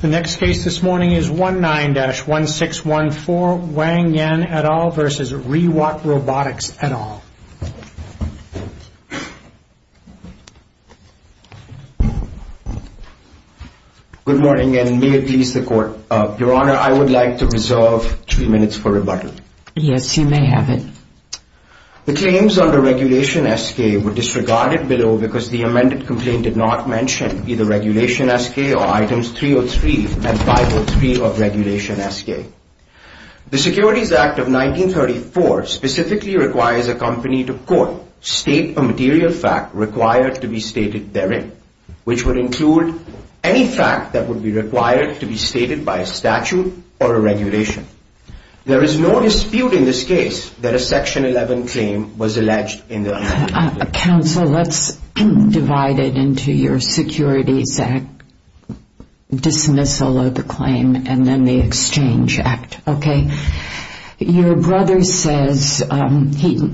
The next case this morning is 19-1614, Wang Yan et al. v. ReWalk Robotics et al. Good morning and may it please the Court. Your Honor, I would like to reserve three minutes for rebuttal. Yes, you may have it. The claims under Regulation SK were disregarded below because the amended complaint did not mention either Regulation SK or Items 303 and 503 of Regulation SK. The Securities Act of 1934 specifically requires a company to, quote, state a material fact required to be stated therein, which would include any fact that would be required to be stated by a statute or a regulation. There is no dispute in this case that a Section 11 claim was alleged in the amended complaint. Counsel, let's divide it into your Securities Act dismissal of the claim and then the Exchange Act, okay? Your brother says he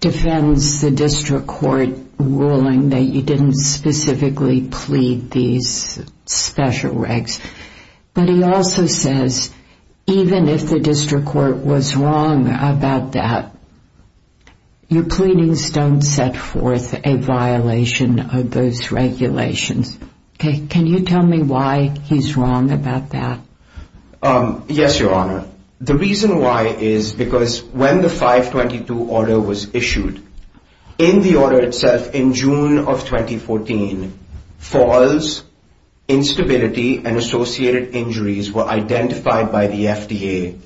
defends the district court ruling that you didn't specifically plead these special regs, but he also says even if the district court was wrong about that, you're pleading stone set forth a violation of those regulations. Can you tell me why he's wrong about that? Yes, Your Honor. The reason why is because when the 522 order was issued, in the order itself in June of 2014, false instability and associated injuries were identified by the FDA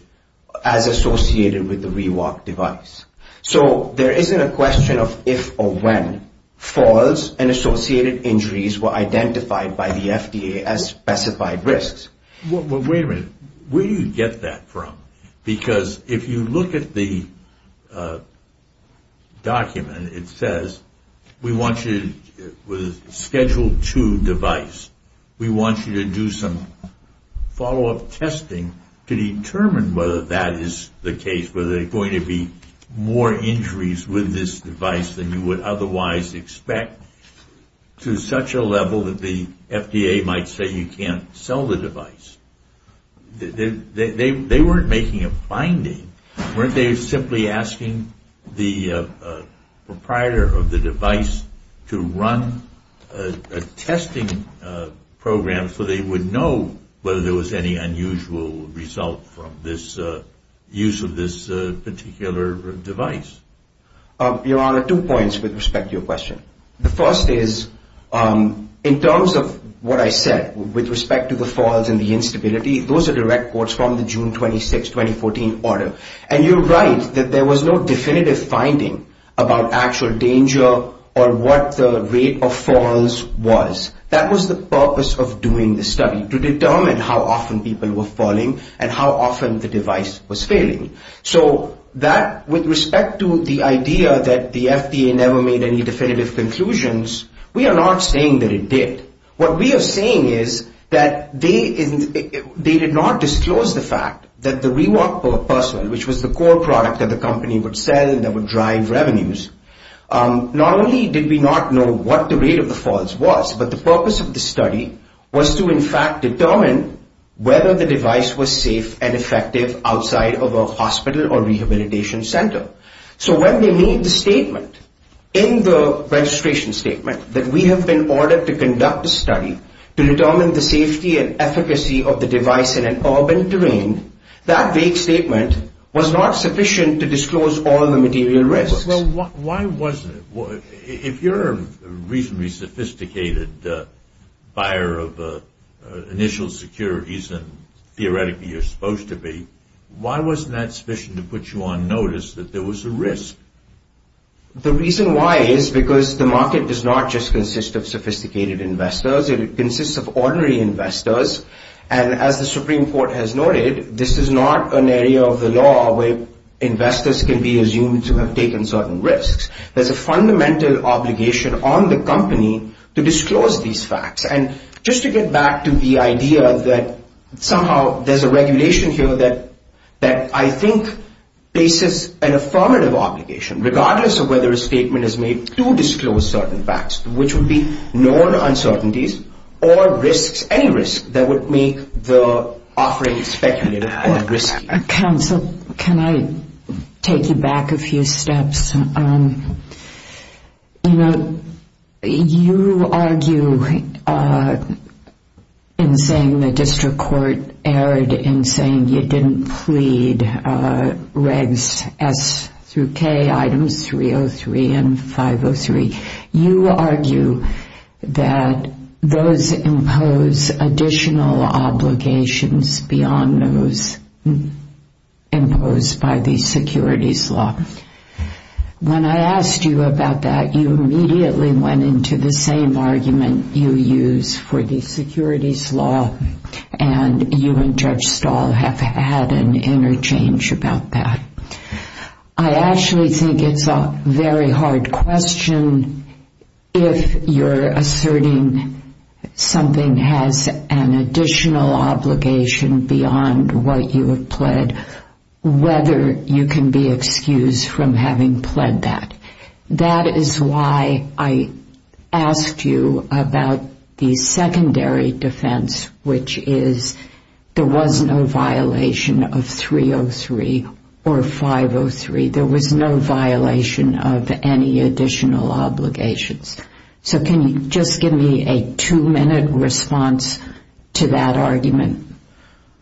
as associated with the rewalk device. So there isn't a question of if or when false and associated injuries were identified by the FDA as specified risks. Wait a minute. Where do you get that from? Because if you look at the document, it says we want you to schedule two device. We want you to do some follow-up testing to determine whether that is the case, whether there are going to be more injuries with this device than you would otherwise expect to such a level that the FDA might say you can't sell the device. They weren't making a finding. Weren't they simply asking the proprietor of the device to run a testing program so they would know whether there was any unusual result from this use of this particular device? Your Honor, two points with respect to your question. The first is in terms of what I said with respect to the false and the instability, those are direct quotes from the June 26, 2014 order. And you're right that there was no definitive finding about actual danger or what the rate of false was. That was the purpose of doing the study, to determine how often people were falling and how often the device was failing. So that with respect to the idea that the FDA never made any definitive conclusions, we are not saying that it did. What we are saying is that they did not disclose the fact that the Rewalp person, which was the core product that the company would sell and that would drive revenues, not only did we not know what the rate of the false was, but the purpose of the study was to in fact determine whether the device was safe and effective outside of a hospital or rehabilitation center. So when they made the statement in the registration statement that we have been ordered to conduct a study to determine the safety and efficacy of the device in an urban terrain, that vague statement was not sufficient to disclose all the material risks. Well, why wasn't it? If you're a reasonably sophisticated buyer of initial securities and theoretically you're supposed to be, why wasn't that sufficient to put you on notice that there was a risk? The reason why is because the market does not just consist of sophisticated investors. It consists of ordinary investors. And as the Supreme Court has noted, this is not an area of the law where investors can be assumed to have taken certain risks. There's a fundamental obligation on the company to disclose these facts. And just to get back to the idea that somehow there's a regulation here that I think faces an affirmative obligation, regardless of whether a statement is made to disclose certain facts, which would be known uncertainties or risks, any risk that would make the offering speculative or risky. Counsel, can I take you back a few steps? You know, you argue in saying the district court erred in saying you didn't plead regs S through K, items 303 and 503. You argue that those impose additional obligations beyond those imposed by the securities law. When I asked you about that, you immediately went into the same argument you use for the securities law, and you and Judge Stahl have had an interchange about that. I actually think it's a very hard question if you're asserting something has an additional obligation beyond what you have pled, whether you can be excused from having pled that. That is why I asked you about the secondary defense, which is there was no violation of 303 or 503. There was no violation of any additional obligations. So can you just give me a two-minute response to that argument?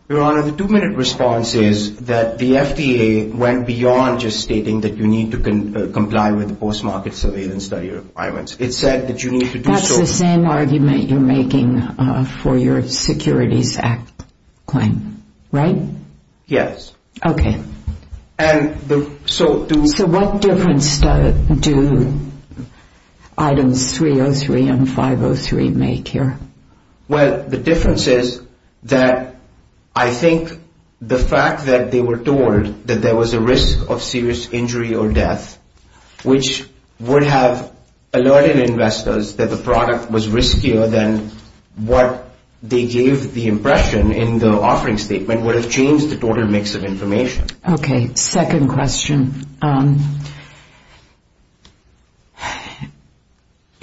Your Honor, the two-minute response is that the FDA went beyond just stating that you need to comply with the post-market surveillance study requirements. It said that you need to do so. That's the same argument you're making for your Securities Act claim, right? Yes. Okay. So what difference do items 303 and 503 make here? Well, the difference is that I think the fact that they were told that there was a risk of serious injury or death, which would have alerted investors that the product was riskier than what they gave the impression in the offering statement, would have changed the total mix of information. Okay. Second question.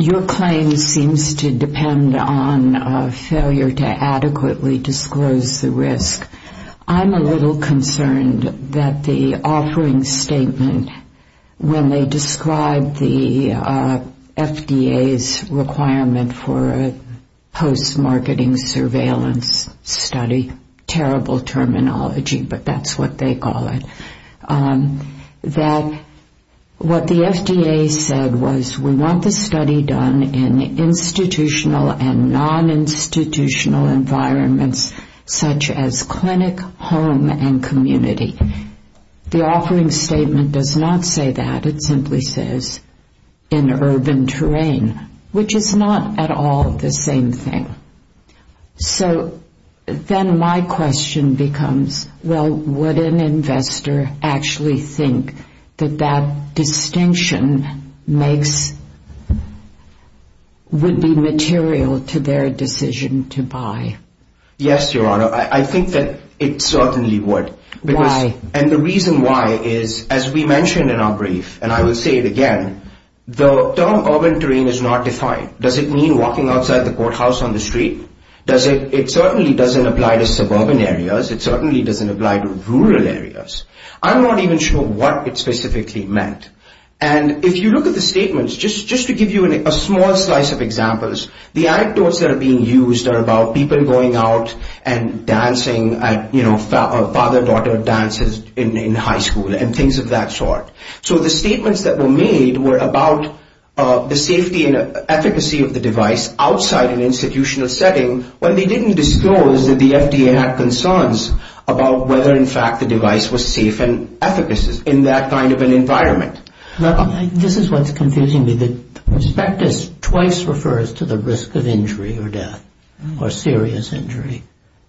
Your claim seems to depend on failure to adequately disclose the risk. I'm a little concerned that the offering statement, when they describe the FDA's requirement for a post-marketing surveillance study, which is a terrible terminology, but that's what they call it, that what the FDA said was we want the study done in institutional and non-institutional environments, such as clinic, home, and community. The offering statement does not say that. It simply says in urban terrain, which is not at all the same thing. So then my question becomes, well, would an investor actually think that that distinction would be material to their decision to buy? Yes, Your Honor. I think that it certainly would. Why? And the reason why is, as we mentioned in our brief, and I will say it again, the term urban terrain is not defined. Does it mean walking outside the courthouse on the street? It certainly doesn't apply to suburban areas. It certainly doesn't apply to rural areas. I'm not even sure what it specifically meant. And if you look at the statements, just to give you a small slice of examples, the anecdotes that are being used are about people going out and dancing, you know, father-daughter dances in high school and things of that sort. So the statements that were made were about the safety and efficacy of the device outside an institutional setting. What they didn't disclose is that the FDA had concerns about whether, in fact, the device was safe and efficacious in that kind of an environment. This is what's confusing me. The prospectus twice refers to the risk of injury or death or serious injury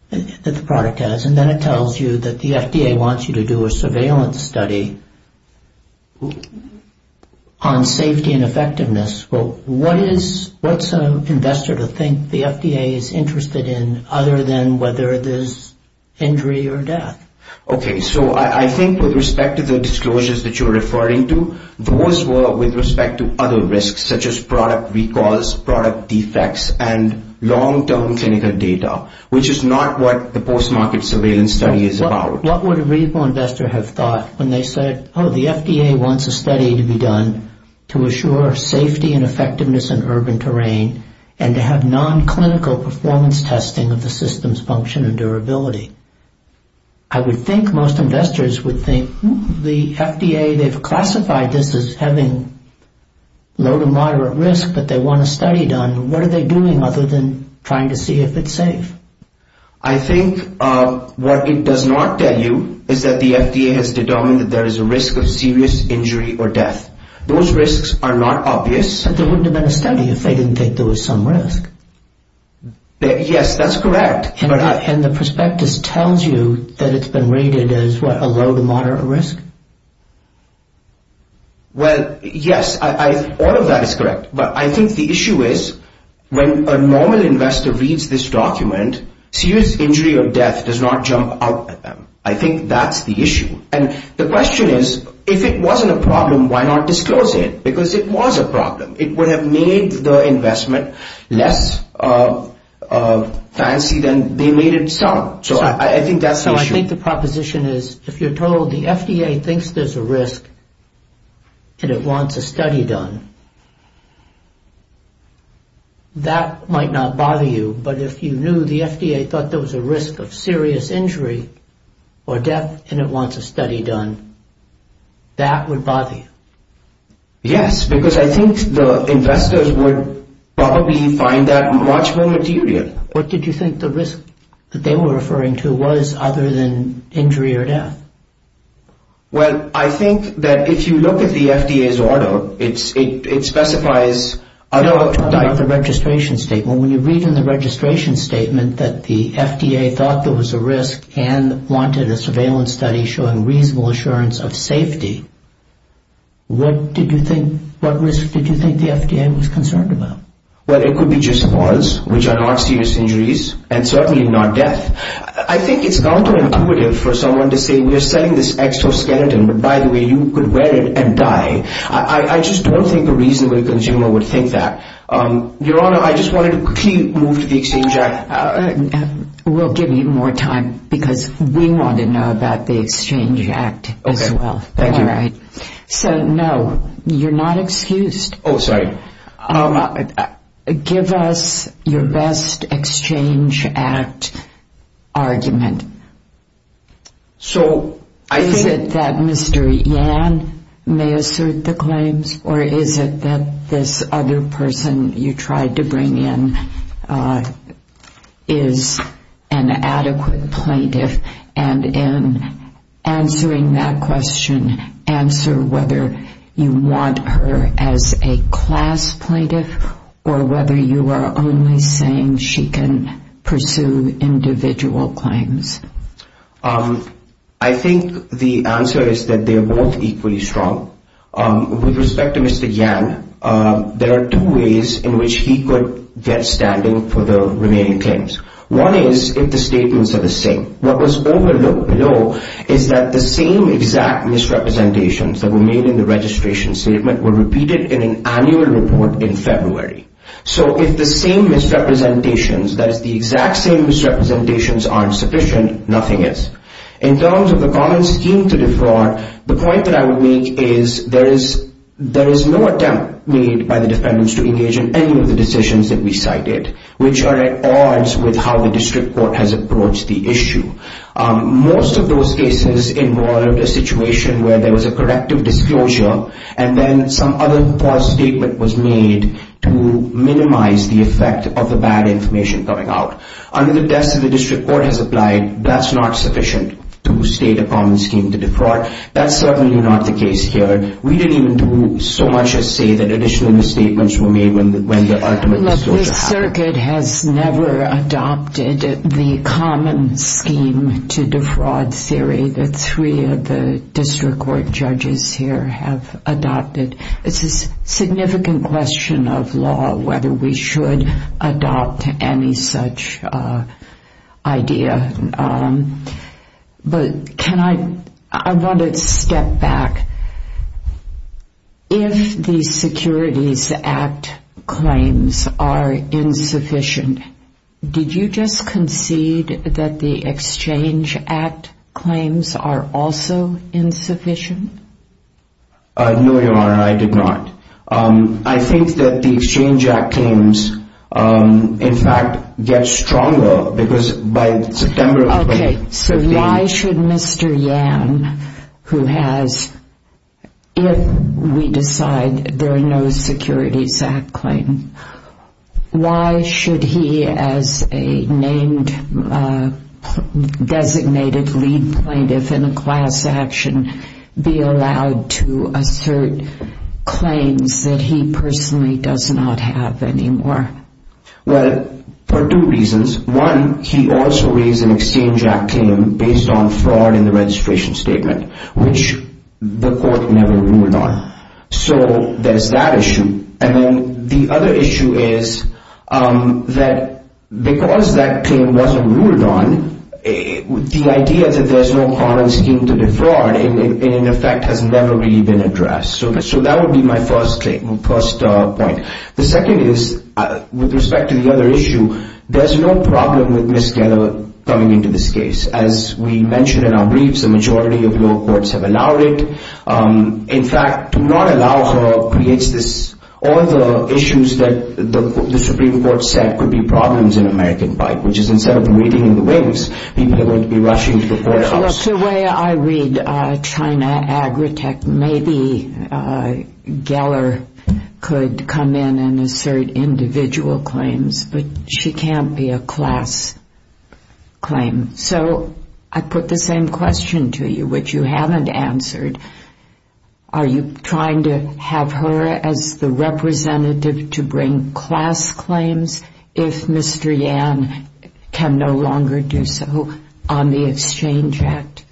that the product has, and then it tells you that the FDA wants you to do a surveillance study on safety and effectiveness. Well, what's an investor to think the FDA is interested in other than whether there's injury or death? Okay, so I think with respect to the disclosures that you're referring to, those were with respect to other risks such as product recalls, product defects, and long-term clinical data, which is not what the post-market surveillance study is about. What would a reasonable investor have thought when they said, oh, the FDA wants a study to be done to assure safety and effectiveness in urban terrain and to have non-clinical performance testing of the system's function and durability? I would think most investors would think the FDA, they've classified this as having low to moderate risk, but they want a study done. What are they doing other than trying to see if it's safe? I think what it does not tell you is that the FDA has determined that there is a risk of serious injury or death. Those risks are not obvious. But there wouldn't have been a study if they didn't think there was some risk. Yes, that's correct. And the prospectus tells you that it's been rated as, what, a low to moderate risk? Well, yes, all of that is correct. But I think the issue is when a normal investor reads this document, serious injury or death does not jump out at them. I think that's the issue. And the question is, if it wasn't a problem, why not disclose it? Because it was a problem. It would have made the investment less fancy than they made it sound. So I think that's the issue. My question is, if you're told the FDA thinks there's a risk and it wants a study done, that might not bother you. But if you knew the FDA thought there was a risk of serious injury or death and it wants a study done, that would bother you? Yes, because I think the investors would probably find that much more material. What did you think the risk that they were referring to was, other than injury or death? Well, I think that if you look at the FDA's order, it specifies... No, I'm talking about the registration statement. When you read in the registration statement that the FDA thought there was a risk and wanted a surveillance study showing reasonable assurance of safety, what risk did you think the FDA was concerned about? Well, it could be just pause, which are not serious injuries, and certainly not death. I think it's counterintuitive for someone to say, we're selling this exoskeleton, but by the way, you could wear it and die. I just don't think a reasonable consumer would think that. Your Honor, I just wanted to quickly move to the Exchange Act. We'll give you more time because we want to know about the Exchange Act as well. Okay, thank you. All right. So, no, you're not excused. Oh, sorry. Give us your best Exchange Act argument. So, I think... Is it that Mr. Yan may assert the claims, or is it that this other person you tried to bring in is an adequate plaintiff? And in answering that question, answer whether you want her as a class plaintiff or whether you are only saying she can pursue individual claims. I think the answer is that they're both equally strong. With respect to Mr. Yan, there are two ways in which he could get standing for the remaining claims. One is if the statements are the same. What was overlooked below is that the same exact misrepresentations that were made in the registration statement were repeated in an annual report in February. So, if the same misrepresentations, that is, the exact same misrepresentations aren't sufficient, nothing is. In terms of the common scheme to defraud, the point that I would make is there is no attempt made by the defendants to engage in any of the decisions that we cited, which are at odds with how the district court has approached the issue. Most of those cases involved a situation where there was a corrective disclosure and then some other false statement was made to minimize the effect of the bad information coming out. Under the test that the district court has applied, that's not sufficient to state a common scheme to defraud. That's certainly not the case here. We didn't even do so much as say that additional misstatements were made when the ultimate disclosure happened. This circuit has never adopted the common scheme to defraud theory that three of the district court judges here have adopted. It's a significant question of law whether we should adopt any such idea. I want to step back. If the Securities Act claims are insufficient, did you just concede that the Exchange Act claims are also insufficient? No, Your Honor, I did not. I think that the Exchange Act claims, in fact, get stronger because by September of 2015— Okay, so why should Mr. Yan, who has, if we decide there are no Securities Act claims, why should he, as a named designated lead plaintiff in a class action, be allowed to assert claims that he personally does not have anymore? Well, for two reasons. One, he also raised an Exchange Act claim based on fraud in the registration statement, which the court never ruled on. So there's that issue. And then the other issue is that because that claim wasn't ruled on, the idea that there's no common scheme to defraud, in effect, has never really been addressed. So that would be my first point. The second is, with respect to the other issue, there's no problem with Ms. Keller coming into this case. As we mentioned in our briefs, a majority of lower courts have allowed it. In fact, to not allow her creates this— all the issues that the Supreme Court said could be problems in American Fight, which is instead of waiting in the wings, people are going to be rushing to the courthouse. Look, the way I read China Agritech, maybe Keller could come in and assert individual claims, but she can't be a class claim. So I put the same question to you, which you haven't answered. Are you trying to have her as the representative to bring class claims if Mr. Yan can no longer do so on the Exchange Act?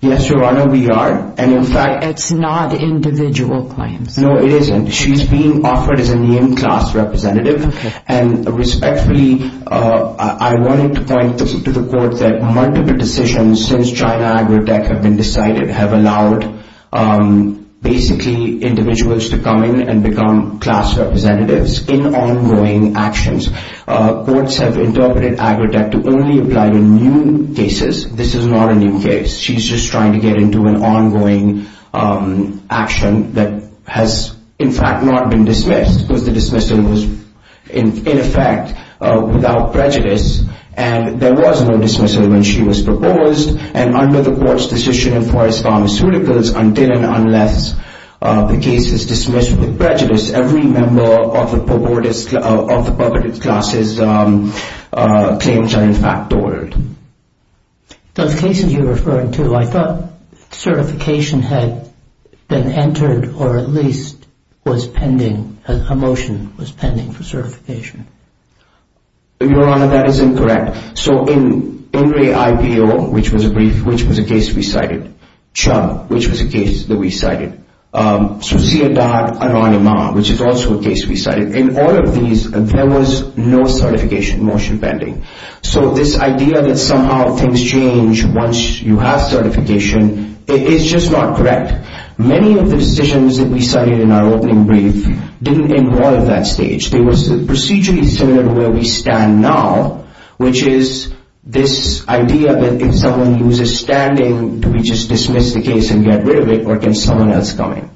Yes, Your Honor, we are. And in fact— But it's not individual claims. No, it isn't. She's being offered as a named class representative. And respectfully, I wanted to point to the court that multiple decisions since China Agritech have been decided have allowed basically individuals to come in and become class representatives in ongoing actions. Courts have interpreted Agritech to only apply to new cases. This is not a new case. She's just trying to get into an ongoing action that has, in fact, not been dismissed because the dismissal was, in effect, without prejudice. And there was no dismissal when she was proposed. And under the court's decision in Forest Pharmaceuticals, until and unless the case is dismissed with prejudice, every member of the public class's claims are in fact ordered. Those cases you're referring to, I thought certification had been entered or at least was pending, a motion was pending for certification. Your Honor, that is incorrect. So in INRI-IPO, which was a brief, which was a case we cited, CHUM, which was a case that we cited, Suceedat Aranimah, which is also a case we cited, in all of these, there was no certification motion pending. So this idea that somehow things change once you have certification is just not correct. Many of the decisions that we cited in our opening brief didn't involve that stage. There was a procedure similar to where we stand now, which is this idea that if someone loses standing, do we just dismiss the case and get rid of it, or can someone else come in?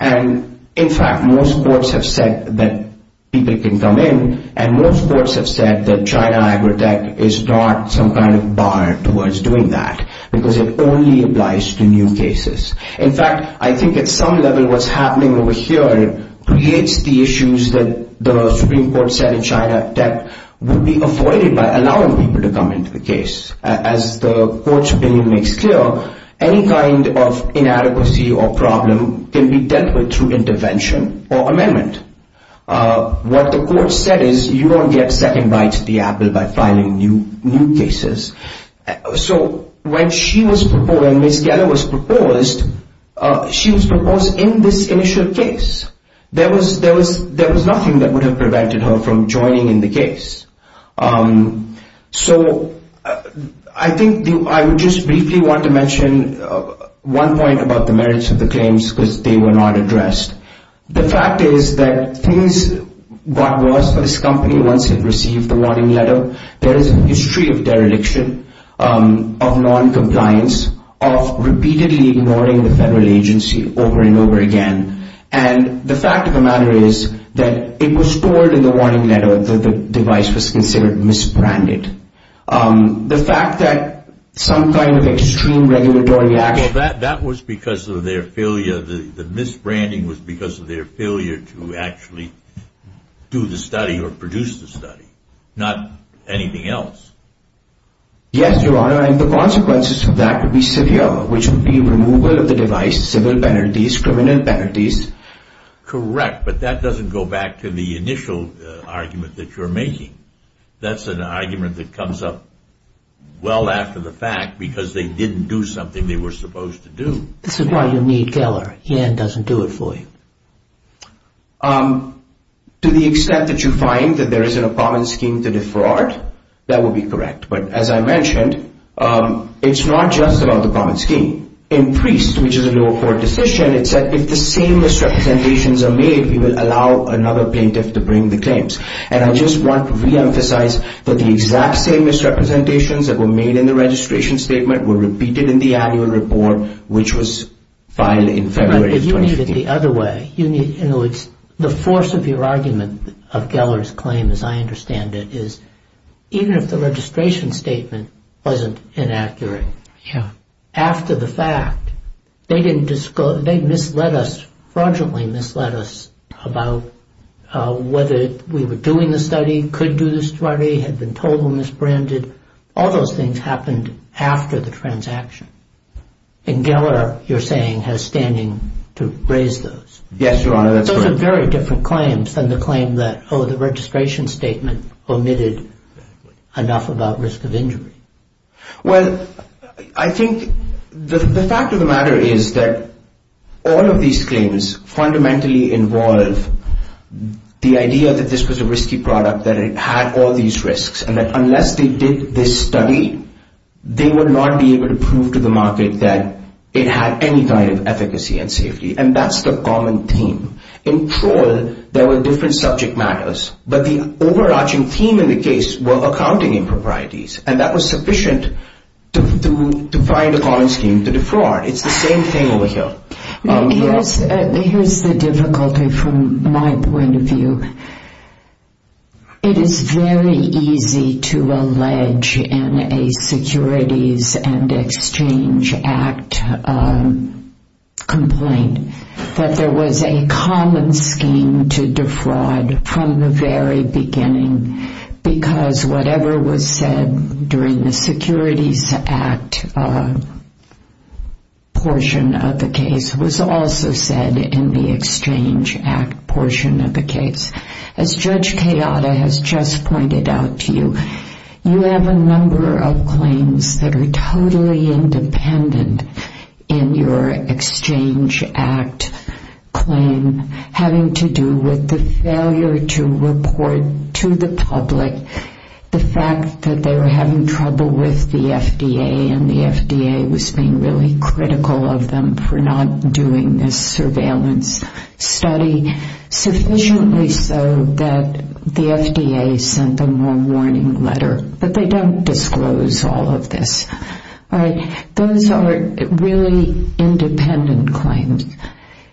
And, in fact, most courts have said that people can come in, and most courts have said that China Agrotech is not some kind of bar towards doing that, because it only applies to new cases. In fact, I think at some level what's happening over here creates the issues that the Supreme Court said in China Agrotech would be avoided by allowing people to come into the case. As the Court's opinion makes clear, any kind of inadequacy or problem can be dealt with through intervention or amendment. What the Court said is you don't get second bites at the apple by filing new cases. So when she was proposed, when Ms. Geller was proposed, she was proposed in this initial case. There was nothing that would have prevented her from joining in the case. So I think I would just briefly want to mention one point about the merits of the claims, because they were not addressed. The fact is that things got worse for this company once it received the warning letter. There is a history of dereliction, of noncompliance, of repeatedly ignoring the federal agency over and over again. And the fact of the matter is that it was told in the warning letter that the device was considered misbranded. The fact that some kind of extreme regulatory action... That was because of their failure. The misbranding was because of their failure to actually do the study or produce the study, not anything else. Yes, Your Honor, and the consequences of that would be severe, which would be removal of the device, civil penalties, criminal penalties. Correct, but that doesn't go back to the initial argument that you're making. That's an argument that comes up well after the fact because they didn't do something they were supposed to do. This is why you need Keller. He doesn't do it for you. To the extent that you find that there isn't a common scheme to defraud, that would be correct. But as I mentioned, it's not just about the common scheme. In Priest, which is a lower court decision, it said if the same misrepresentations are made, we will allow another plaintiff to bring the claims. And I just want to reemphasize that the exact same misrepresentations that were made in the registration statement were repeated in the annual report, which was filed in February of 2015. But you need it the other way. The force of your argument of Keller's claim, as I understand it, is even if the registration statement wasn't inaccurate, after the fact, they misled us, fraudulently misled us about whether we were doing the study, could do the study, had been told or misbranded. All those things happened after the transaction. And Keller, you're saying, has standing to raise those. Yes, Your Honor, that's correct. Those are very different claims than the claim that, oh, the registration statement omitted enough about risk of injury. Well, I think the fact of the matter is that all of these claims fundamentally involve the idea that this was a risky product, that it had all these risks, and that unless they did this study, they would not be able to prove to the market that it had any kind of efficacy and safety. And that's the common theme. In Troll, there were different subject matters, but the overarching theme in the case were accounting improprieties. And that was sufficient to find a common scheme to defraud. It's the same thing over here. Here's the difficulty from my point of view. It is very easy to allege in a Securities and Exchange Act complaint that there was a common scheme to defraud from the very beginning because whatever was said during the Securities Act portion of the case was also said in the Exchange Act portion of the case. As Judge Kayada has just pointed out to you, you have a number of claims that are totally independent in your Exchange Act claim having to do with the failure to report to the public the fact that they were having trouble with the FDA and the FDA was being really critical of them for not doing this surveillance study, sufficiently so that the FDA sent them a warning letter that they don't disclose all of this. Those are really independent claims.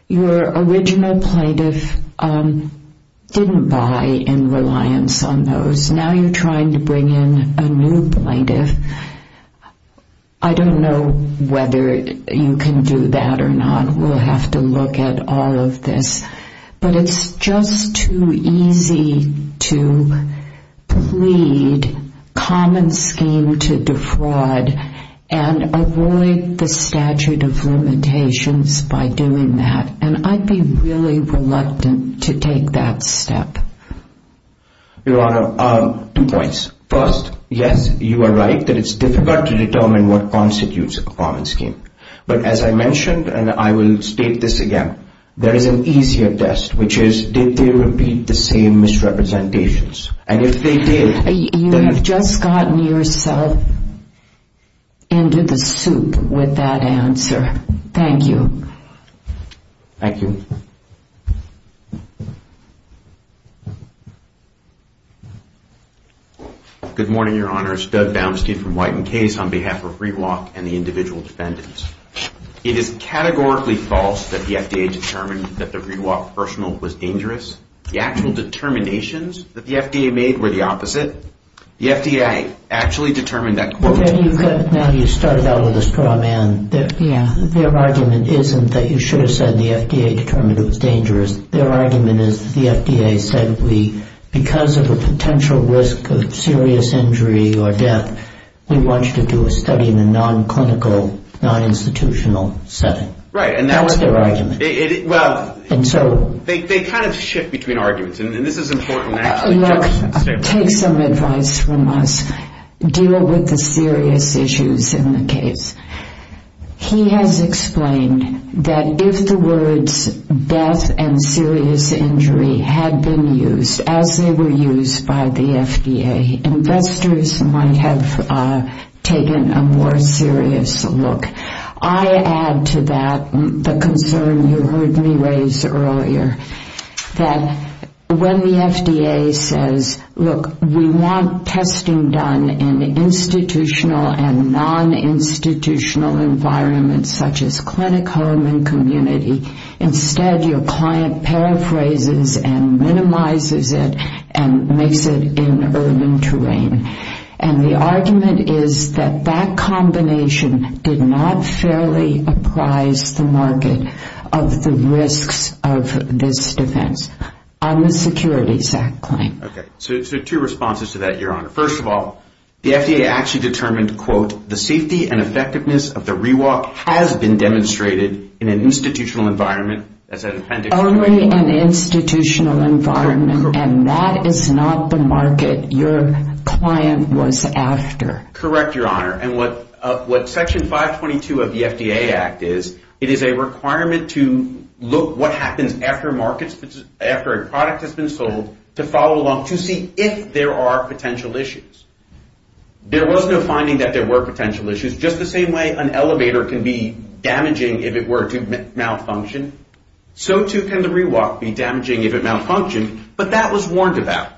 Your original plaintiff didn't buy in reliance on those. Now you're trying to bring in a new plaintiff. I don't know whether you can do that or not. We'll have to look at all of this. But it's just too easy to plead common scheme to defraud and avoid the statute of limitations by doing that. And I'd be really reluctant to take that step. Your Honor, two points. First, yes, you are right that it's difficult to determine what constitutes a common scheme. But as I mentioned, and I will state this again, there is an easier test, which is did they repeat the same misrepresentations? And if they did, then... You have just gotten yourself into the soup with that answer. Thank you. Thank you. Thank you. Good morning, Your Honors. Doug Baumstein from White and Case on behalf of Rewalk and the individual defendants. It is categorically false that the FDA determined that the Rewalk personal was dangerous. The actual determinations that the FDA made were the opposite. The FDA actually determined that... Now you've started out with a straw man. Their argument isn't that you should have said the FDA determined it was dangerous. Their argument is that the FDA said because of a potential risk of serious injury or death, we want you to do a study in a non-clinical, non-institutional setting. That's their argument. They kind of shift between arguments. And this is important. Take some advice from us. Deal with the serious issues in the case. He has explained that if the words death and serious injury had been used as they were used by the FDA, investors might have taken a more serious look. I add to that the concern you heard me raise earlier, that when the FDA says, look, we want testing done in institutional and non-institutional environments such as clinic, home, and community, instead your client paraphrases and minimizes it and makes it in urban terrain. And the argument is that that combination did not fairly apprise the market of the risks of this defense. On the Securities Act claim. Okay. So two responses to that, Your Honor. First of all, the FDA actually determined, quote, the safety and effectiveness of the rewalk has been demonstrated in an institutional environment. Only an institutional environment. And that is not the market. Your client was after. Correct, Your Honor. And what Section 522 of the FDA Act is, it is a requirement to look what happens after a product has been sold to follow along to see if there are potential issues. There was no finding that there were potential issues. Just the same way an elevator can be damaging if it were to malfunction, so too can the rewalk be damaging if it malfunctioned. But that was warned about.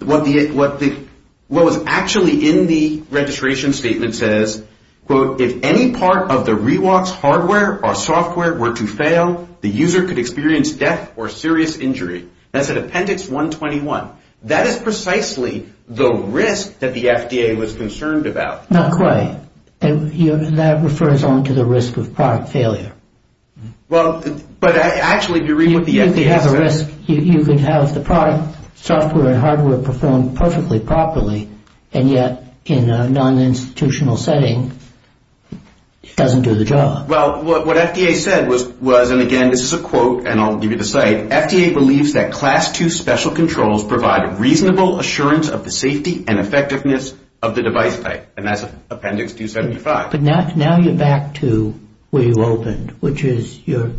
What was actually in the registration statement says, quote, if any part of the rewalk's hardware or software were to fail, the user could experience death or serious injury. That's in Appendix 121. That is precisely the risk that the FDA was concerned about. Not quite. That refers on to the risk of product failure. Well, but actually if you read what the FDA says. If you have a risk, you can have the product, software, and hardware perform perfectly properly, and yet in a non-institutional setting, it doesn't do the job. Well, what FDA said was, and again this is a quote, and I'll give you the site, FDA believes that Class 2 special controls provide reasonable assurance of the safety and effectiveness of the device type. And that's Appendix 275. But now you're back to where you opened, which is you're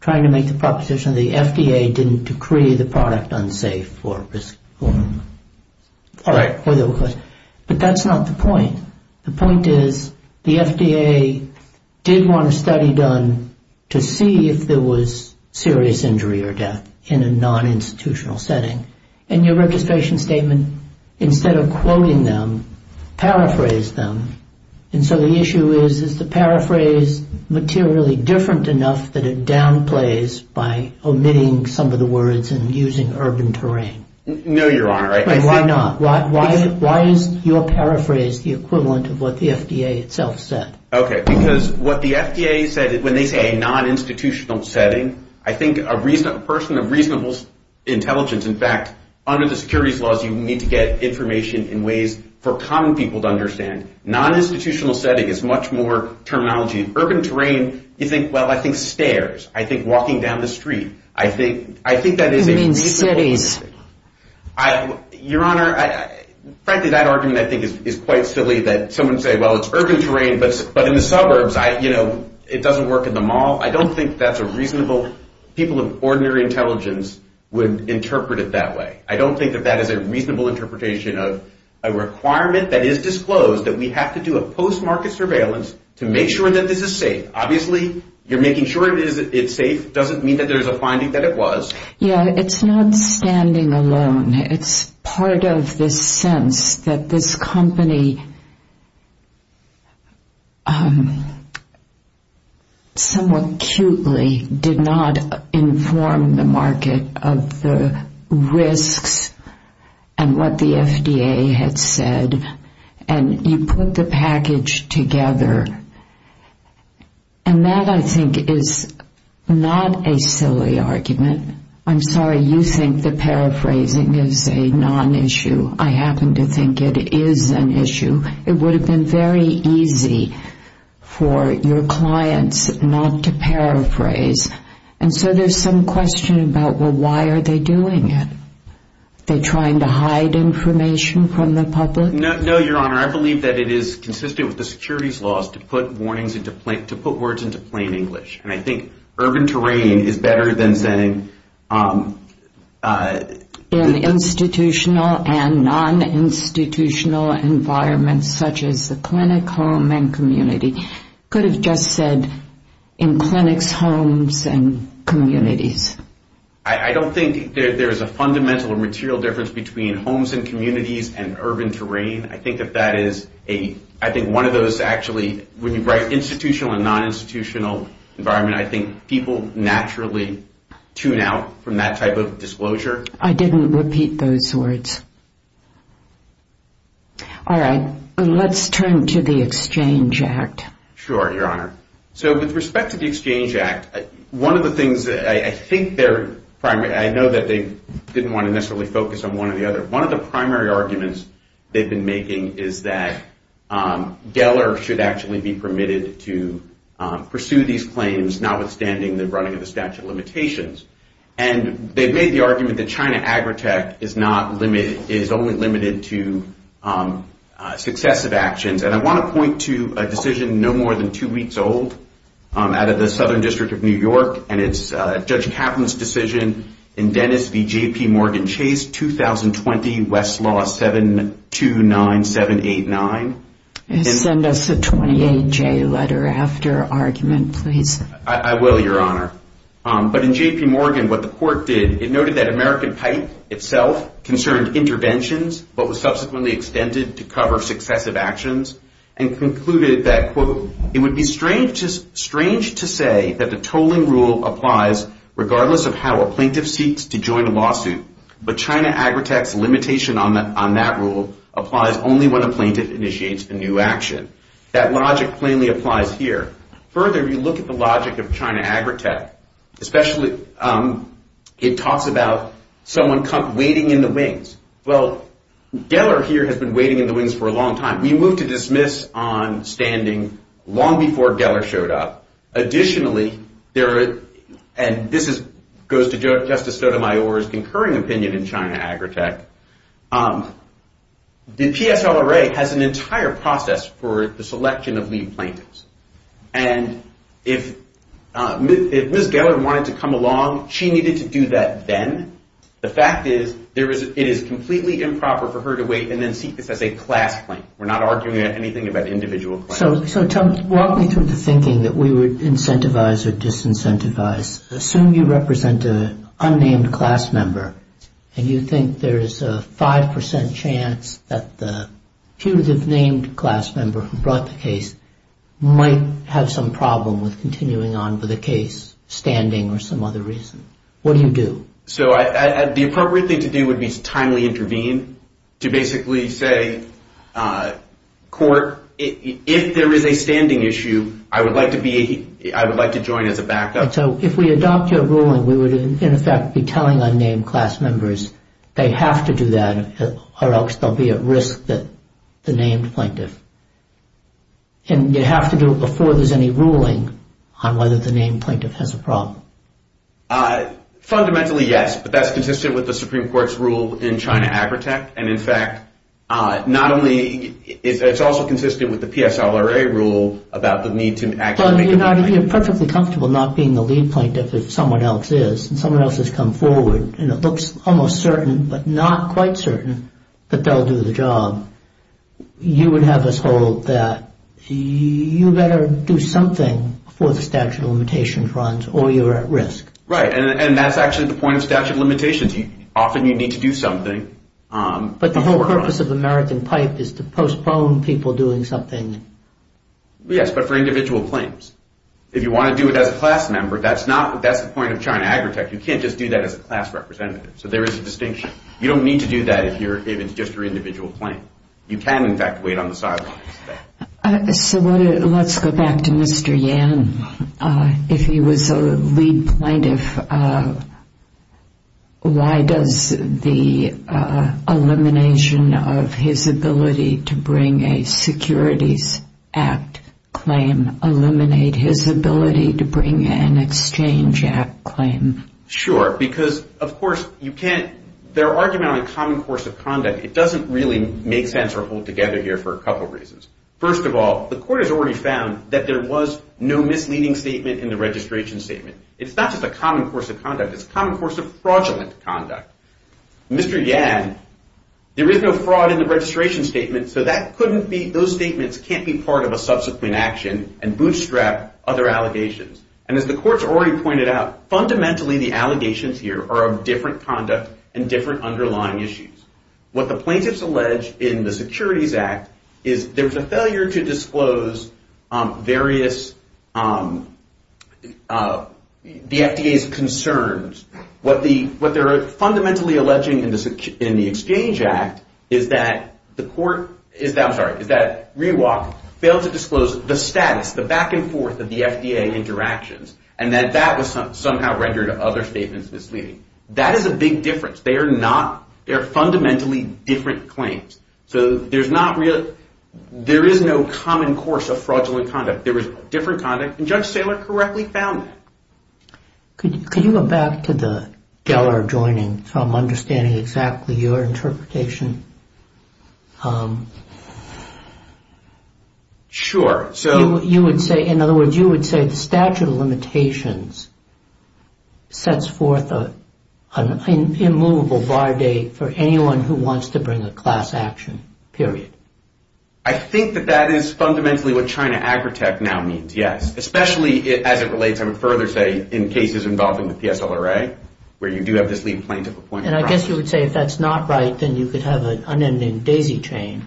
trying to make the proposition the FDA didn't decree the product unsafe. All right. But that's not the point. The point is the FDA did want a study done to see if there was serious injury or death in a non-institutional setting. In your registration statement, instead of quoting them, paraphrase them. And so the issue is, is the paraphrase materially different enough that it downplays by omitting some of the words and using urban terrain? No, Your Honor. Why not? Why is your paraphrase the equivalent of what the FDA itself said? Okay. Because what the FDA said, when they say a non-institutional setting, I think a person of reasonable intelligence, in fact, under the securities laws, you need to get information in ways for common people to understand. Non-institutional setting is much more terminology. Urban terrain, you think, well, I think stairs. I think walking down the street. I think that is a reasonable interpretation. You mean cities. Your Honor, frankly, that argument, I think, is quite silly that someone would say, well, it's urban terrain, but in the suburbs, you know, it doesn't work in the mall. I don't think that's a reasonable – people of ordinary intelligence would interpret it that way. I don't think that that is a reasonable interpretation of a requirement that is disclosed that we have to do a post-market surveillance to make sure that this is safe. Obviously, you're making sure it's safe doesn't mean that there's a finding that it was. Yeah, it's not standing alone. It's part of this sense that this company somewhat cutely did not inform the market of the risks and what the FDA had said, and you put the package together. And that, I think, is not a silly argument. I'm sorry, you think that paraphrasing is a non-issue. I happen to think it is an issue. It would have been very easy for your clients not to paraphrase. And so there's some question about, well, why are they doing it? Are they trying to hide information from the public? No, Your Honor. I believe that it is consistent with the securities laws to put words into plain English. And I think urban terrain is better than saying – In institutional and non-institutional environments such as the clinic, home, and community. Could have just said, in clinics, homes, and communities. I don't think there's a fundamental or material difference between homes and communities and urban terrain. I think that that is a – I think one of those actually – when you write institutional and non-institutional environment, I think people naturally tune out from that type of disclosure. I didn't repeat those words. All right. Let's turn to the Exchange Act. Sure, Your Honor. So with respect to the Exchange Act, one of the things that I think their primary – I know that they didn't want to necessarily focus on one or the other. One of the primary arguments they've been making is that Geller should actually be permitted to pursue these claims notwithstanding the running of the statute of limitations. And they made the argument that China Agritech is not limited – is only limited to successive actions. And I want to point to a decision no more than two weeks old out of the Southern District of New York, and it's Judge Kaplan's decision in Dennis v. J.P. Morgan Chase, 2020, Westlaw 729789. Send us a 28-J letter after argument, please. I will, Your Honor. But in J.P. Morgan, what the court did, it noted that American Pipe itself concerned interventions, but was subsequently extended to cover successive actions, and concluded that, quote, it would be strange to say that the tolling rule applies regardless of how a plaintiff seeks to join a lawsuit, but China Agritech's limitation on that rule applies only when a plaintiff initiates a new action. That logic plainly applies here. Further, if you look at the logic of China Agritech, especially it talks about someone waiting in the wings. Well, Geller here has been waiting in the wings for a long time. We moved to dismiss on standing long before Geller showed up. Additionally, and this goes to Justice Sotomayor's concurring opinion in China Agritech, the PSLRA has an entire process for the selection of lead plaintiffs. And if Ms. Geller wanted to come along, she needed to do that then. The fact is, it is completely improper for her to wait and then seek this as a class claim. We're not arguing anything about individual claims. So walk me through the thinking that we would incentivize or disincentivize. Assume you represent an unnamed class member and you think there is a 5% chance that the punitive named class member who brought the case might have some problem with continuing on with the case standing or some other reason. What do you do? So the appropriate thing to do would be to timely intervene, to basically say, court, if there is a standing issue, I would like to join as a backup. And so if we adopt your ruling, we would, in effect, be telling unnamed class members they have to do that or else they'll be at risk that the named plaintiff. And you have to do it before there's any ruling on whether the named plaintiff has a problem. Fundamentally, yes. But that's consistent with the Supreme Court's rule in China Agritech. And in fact, it's also consistent with the PSLRA rule about the need to actually make a complaint. If you're perfectly comfortable not being the lead plaintiff if someone else is and someone else has come forward and it looks almost certain but not quite certain that they'll do the job, you would have us hold that you better do something before the statute of limitations runs or you're at risk. Right. And that's actually the point of statute of limitations. Often you need to do something. But the whole purpose of American Pipe is to postpone people doing something. Yes, but for individual claims. If you want to do it as a class member, that's the point of China Agritech. You can't just do that as a class representative. So there is a distinction. You don't need to do that if it's just your individual claim. You can, in fact, wait on the sidelines. So let's go back to Mr. Yan. If he was a lead plaintiff, why does the elimination of his ability to bring a securities act claim eliminate his ability to bring an exchange act claim? Sure, because, of course, you can't. They're arguing on a common course of conduct. It doesn't really make sense or hold together here for a couple reasons. First of all, the court has already found that there was no misleading statement in the registration statement. It's not just a common course of conduct. It's a common course of fraudulent conduct. Mr. Yan, there is no fraud in the registration statement, so those statements can't be part of a subsequent action and bootstrap other allegations. And as the court's already pointed out, fundamentally the allegations here are of different conduct and different underlying issues. What the plaintiffs allege in the securities act is there was a failure to disclose the FDA's concerns. What they're fundamentally alleging in the exchange act is that Rewalk failed to disclose the status, the back and forth of the FDA interactions, and that that was somehow rendered other statements misleading. That is a big difference. They are fundamentally different claims. So there is no common course of fraudulent conduct. There was different conduct, and Judge Saylor correctly found that. Could you go back to the Geller joining, so I'm understanding exactly your interpretation? Sure. In other words, you would say the statute of limitations sets forth an immovable bar date for anyone who wants to bring a class action, period. I think that that is fundamentally what China Agritech now means, yes, especially as it relates, I would further say, in cases involving the PSLRA, where you do have this lead plaintiff appointment process. And I guess you would say if that's not right, then you could have an unending daisy chain.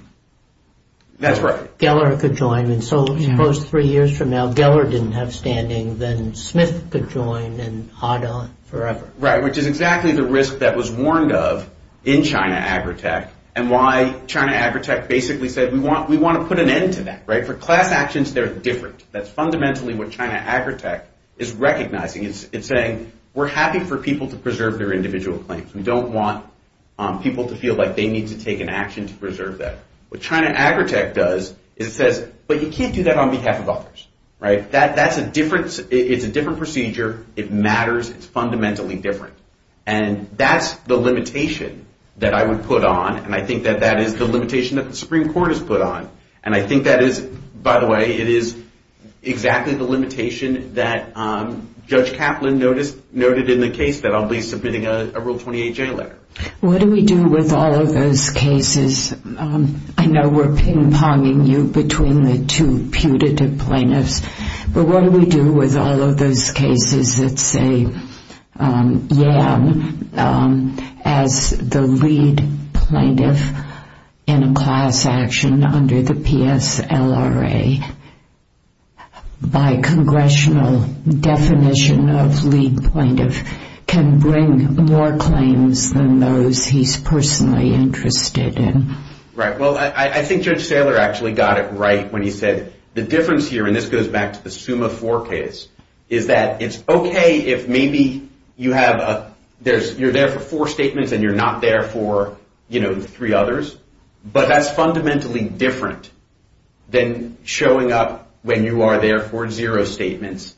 That's right. Geller could join, and so suppose three years from now, Geller didn't have standing, then Smith could join and haught on forever. Right, which is exactly the risk that was warned of in China Agritech, and why China Agritech basically said we want to put an end to that, right? For class actions, they're different. That's fundamentally what China Agritech is recognizing. It's saying we're happy for people to preserve their individual claims. We don't want people to feel like they need to take an action to preserve that. What China Agritech does is it says, but you can't do that on behalf of others, right? That's a different procedure. It matters. It's fundamentally different. And that's the limitation that I would put on, and I think that that is the limitation that the Supreme Court has put on. And I think that is, by the way, it is exactly the limitation that Judge Kaplan noted in the case that I'll be submitting a Rule 28J letter. What do we do with all of those cases? I know we're ping-ponging you between the two putative plaintiffs, but what do we do with all of those cases that say, yeah, as the lead plaintiff in a class action under the PSLRA, by congressional definition of lead plaintiff, can bring more claims than those he's personally interested in? Right. Well, I think Judge Saylor actually got it right when he said the difference here, and this goes back to the SUMA IV case, is that it's okay if maybe you're there for four statements and you're not there for three others, but that's fundamentally different than showing up when you are there for zero statements,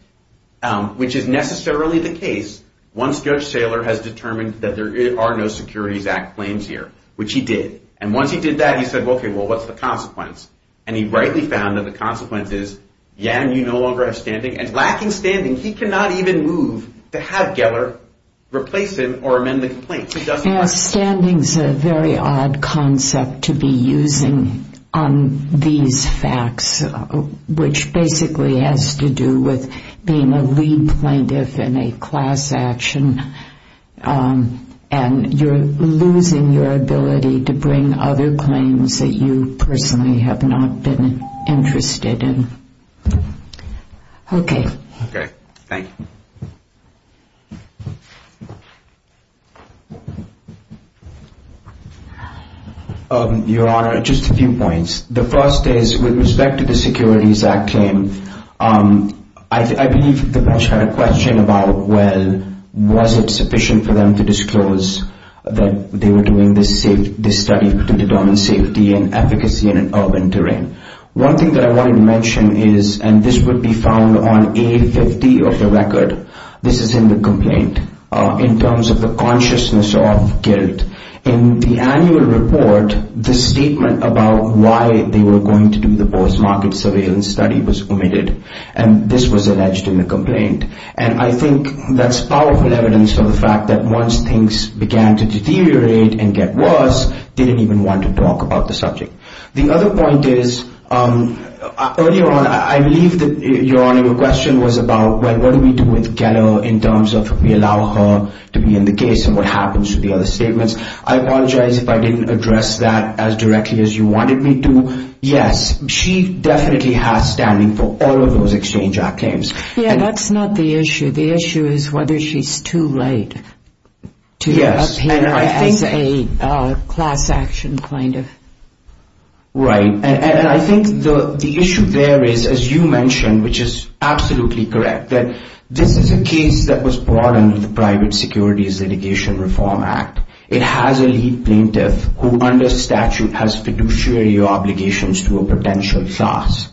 which is necessarily the case once Judge Saylor has determined that there are no Securities Act claims here, which he did. And once he did that, he said, okay, well, what's the consequence? And he rightly found that the consequence is, yeah, you no longer have standing. And lacking standing, he cannot even move to have Geller replace him or amend the complaint. Standing is a very odd concept to be using on these facts, which basically has to do with being a lead plaintiff in a class action, and you're losing your ability to bring other claims that you personally have not been interested in. Okay. Okay. Thank you. Your Honor, just a few points. The first is, with respect to the Securities Act claim, I believe the bench had a question about, well, was it sufficient for them to disclose that they were doing this study to determine safety and efficacy in an urban terrain. One thing that I wanted to mention is, and this would be found on A50 of the record, this is in the complaint, in terms of the consciousness of guilt. In the annual report, the statement about why they were going to do the post-market surveillance study was omitted, and this was alleged in the complaint. And I think that's powerful evidence of the fact that once things began to deteriorate and get worse, they didn't even want to talk about the subject. The other point is, earlier on, I believe that, Your Honor, your question was about, well, what do we do with Geller in terms of we allow her to be in the case and what happens to the other statements. I apologize if I didn't address that as directly as you wanted me to. Yes, she definitely has standing for all of those Exchange Act claims. Yeah, that's not the issue. The issue is whether she's too late to appear as a class action kind of. Right. And I think the issue there is, as you mentioned, which is absolutely correct, that this is a case that was brought under the Private Securities Litigation Reform Act. It has a lead plaintiff who, under statute, has fiduciary obligations to a potential class.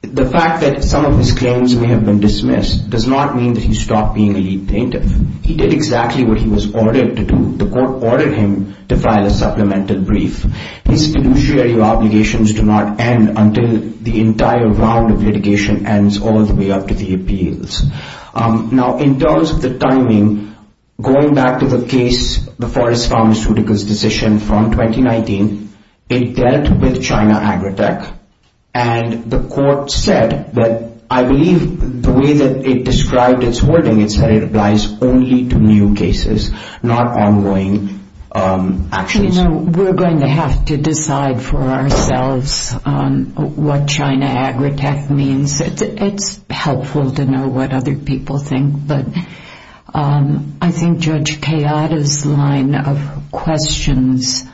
The fact that some of his claims may have been dismissed does not mean that he stopped being a lead plaintiff. He did exactly what he was ordered to do. The court ordered him to file a supplemental brief. His fiduciary obligations do not end until the entire round of litigation ends all the way up to the appeals. Now, in terms of the timing, going back to the case, the Forrest Farmaceuticals decision from 2019, it dealt with China Agritech, and the court said that, I believe, the way that it described its wording, it said it applies only to new cases, not ongoing actions. We're going to have to decide for ourselves what China Agritech means. It's helpful to know what other people think, but I think Judge Kayada's line of questions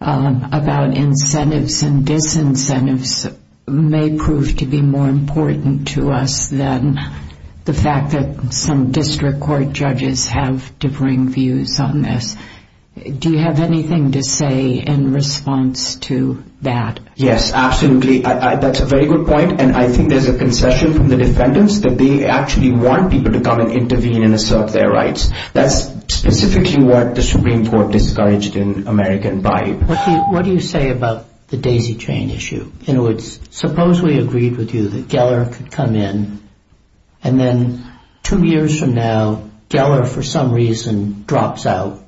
about incentives and disincentives may prove to be more important to us than the fact that some district court judges have differing views on this. Do you have anything to say in response to that? Yes, absolutely. That's a very good point, and I think there's a concession from the defendants that they actually want people to come and intervene and assert their rights. That's specifically what the Supreme Court discouraged in American Byte. What do you say about the daisy chain issue? In other words, suppose we agreed with you that Geller could come in, and then two years from now, Geller for some reason drops out.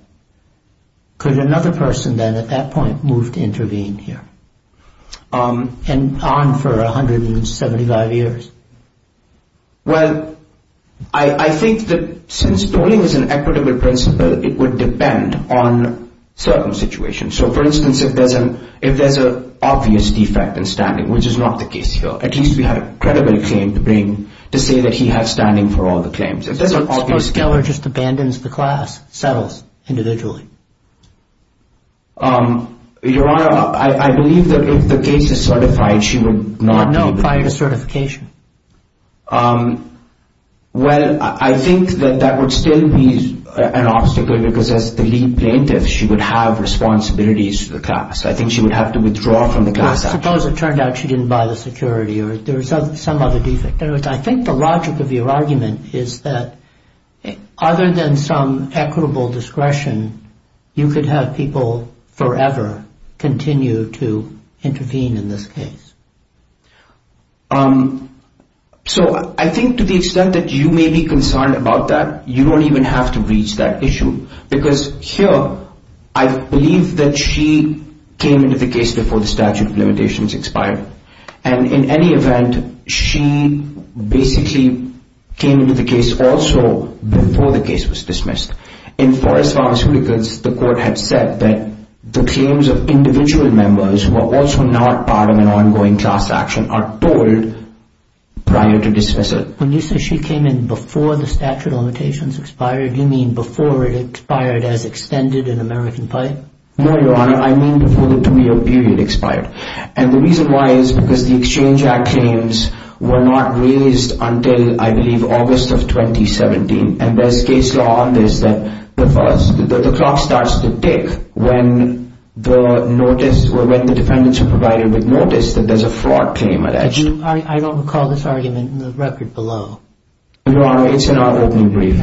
Could another person then at that point move to intervene here, and on for 175 years? Well, I think that since tolling is an equitable principle, it would depend on certain situations. So, for instance, if there's an obvious defect in standing, which is not the case here, at least we have a credible claim to bring to say that he has standing for all the claims. Suppose Geller just abandons the class, settles individually? Your Honor, I believe that if the case is certified, she would not be. Not known prior to certification. Well, I think that that would still be an obstacle because as the lead plaintiff, she would have responsibilities to the class. I think she would have to withdraw from the class. Suppose it turned out she didn't buy the security or there was some other defect. In other words, I think the logic of your argument is that other than some equitable discretion, you could have people forever continue to intervene in this case. So I think to the extent that you may be concerned about that, you don't even have to reach that issue. Because here, I believe that she came into the case before the statute of limitations expired. And in any event, she basically came into the case also before the case was dismissed. In Forrest Farm's records, the court had said that the claims of individual members who are also not part of an ongoing class action are told prior to dismissal. When you say she came in before the statute of limitations expired, you mean before it expired as extended in American Fight? No, Your Honor. I mean before the two-year period expired. And the reason why is because the Exchange Act claims were not raised until, I believe, August of 2017. And there's case law on this that the clock starts to tick when the notice or when the defendants are provided with notice that there's a fraud claim alleged. I don't recall this argument in the record below. Your Honor, it's in our opening brief.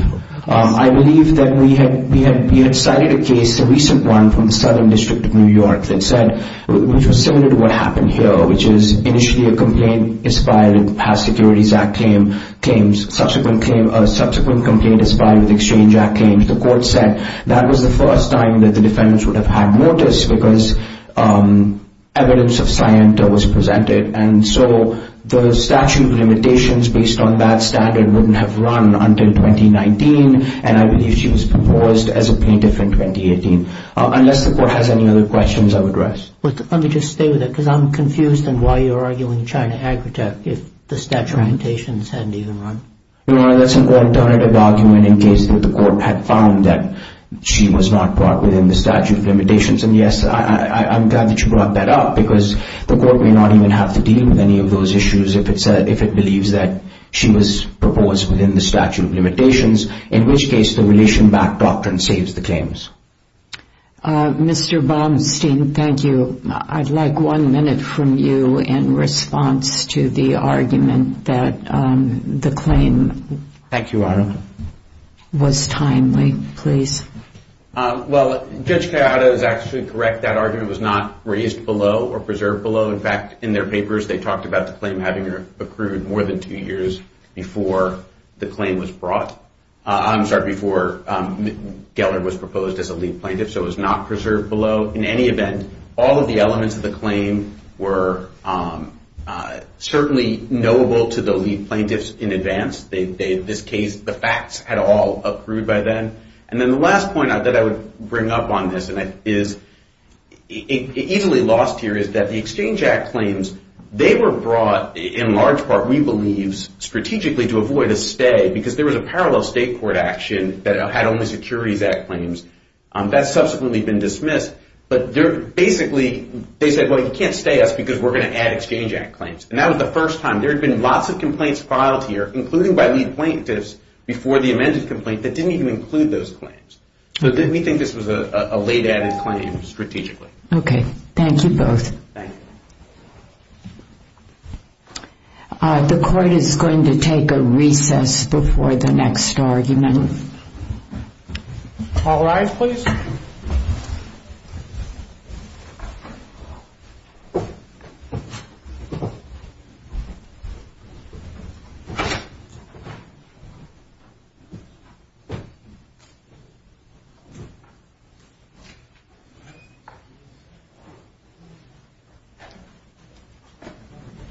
I believe that we had cited a case, a recent one from the Southern District of New York, that said, which was similar to what happened here, which is initially a complaint inspired in past Securities Act claims, subsequent complaint inspired with Exchange Act claims. The court said that was the first time that the defendants would have had notice because evidence of scienta was presented. And so the statute of limitations based on that standard wouldn't have run until 2019. And I believe she was proposed as a plaintiff in 2018. Unless the court has any other questions, I would rest. Let me just stay with it because I'm confused on why you're arguing China Agritech if the statute of limitations hadn't even run. Your Honor, that's an alternative argument in case the court had found that she was not brought within the statute of limitations. And, yes, I'm glad that you brought that up because the court may not even have to deal with any of those issues if it believes that she was proposed within the statute of limitations, in which case the relation-backed doctrine saves the claims. Mr. Bomstein, thank you. I'd like one minute from you in response to the argument that the claim was timely. Please. Well, Judge Gallardo is actually correct. That argument was not raised below or preserved below. In fact, in their papers, they talked about the claim having accrued more than two years before the claim was brought. I'm sorry, before Geller was proposed as a lead plaintiff. So it was not preserved below. In any event, all of the elements of the claim were certainly knowable to the lead plaintiffs in advance. In this case, the facts had all accrued by then. And then the last point that I would bring up on this, and it is easily lost here, is that the Exchange Act claims, they were brought, in large part, we believe, strategically to avoid a stay because there was a parallel state court action that had only Securities Act claims. That's subsequently been dismissed. But basically, they said, well, you can't stay us because we're going to add Exchange Act claims. And that was the first time. There had been lots of complaints filed here, including by lead plaintiffs before the amended complaint, that didn't even include those claims. So we think this was a late added claim, strategically. Okay. Thank you both. Thank you. The court is going to take a recess before the next argument. All rise, please. The court is adjourned. Thank you.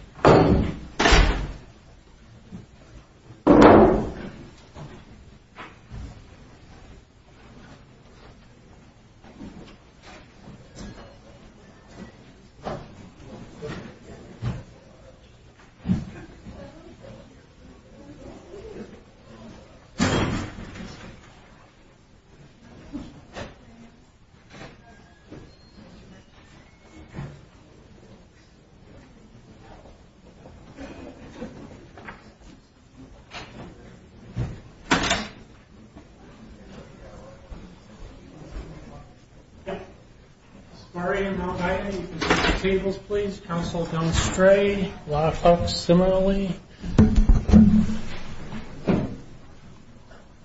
Tables, please. Counsel, don't stray. A lot of folks similarly.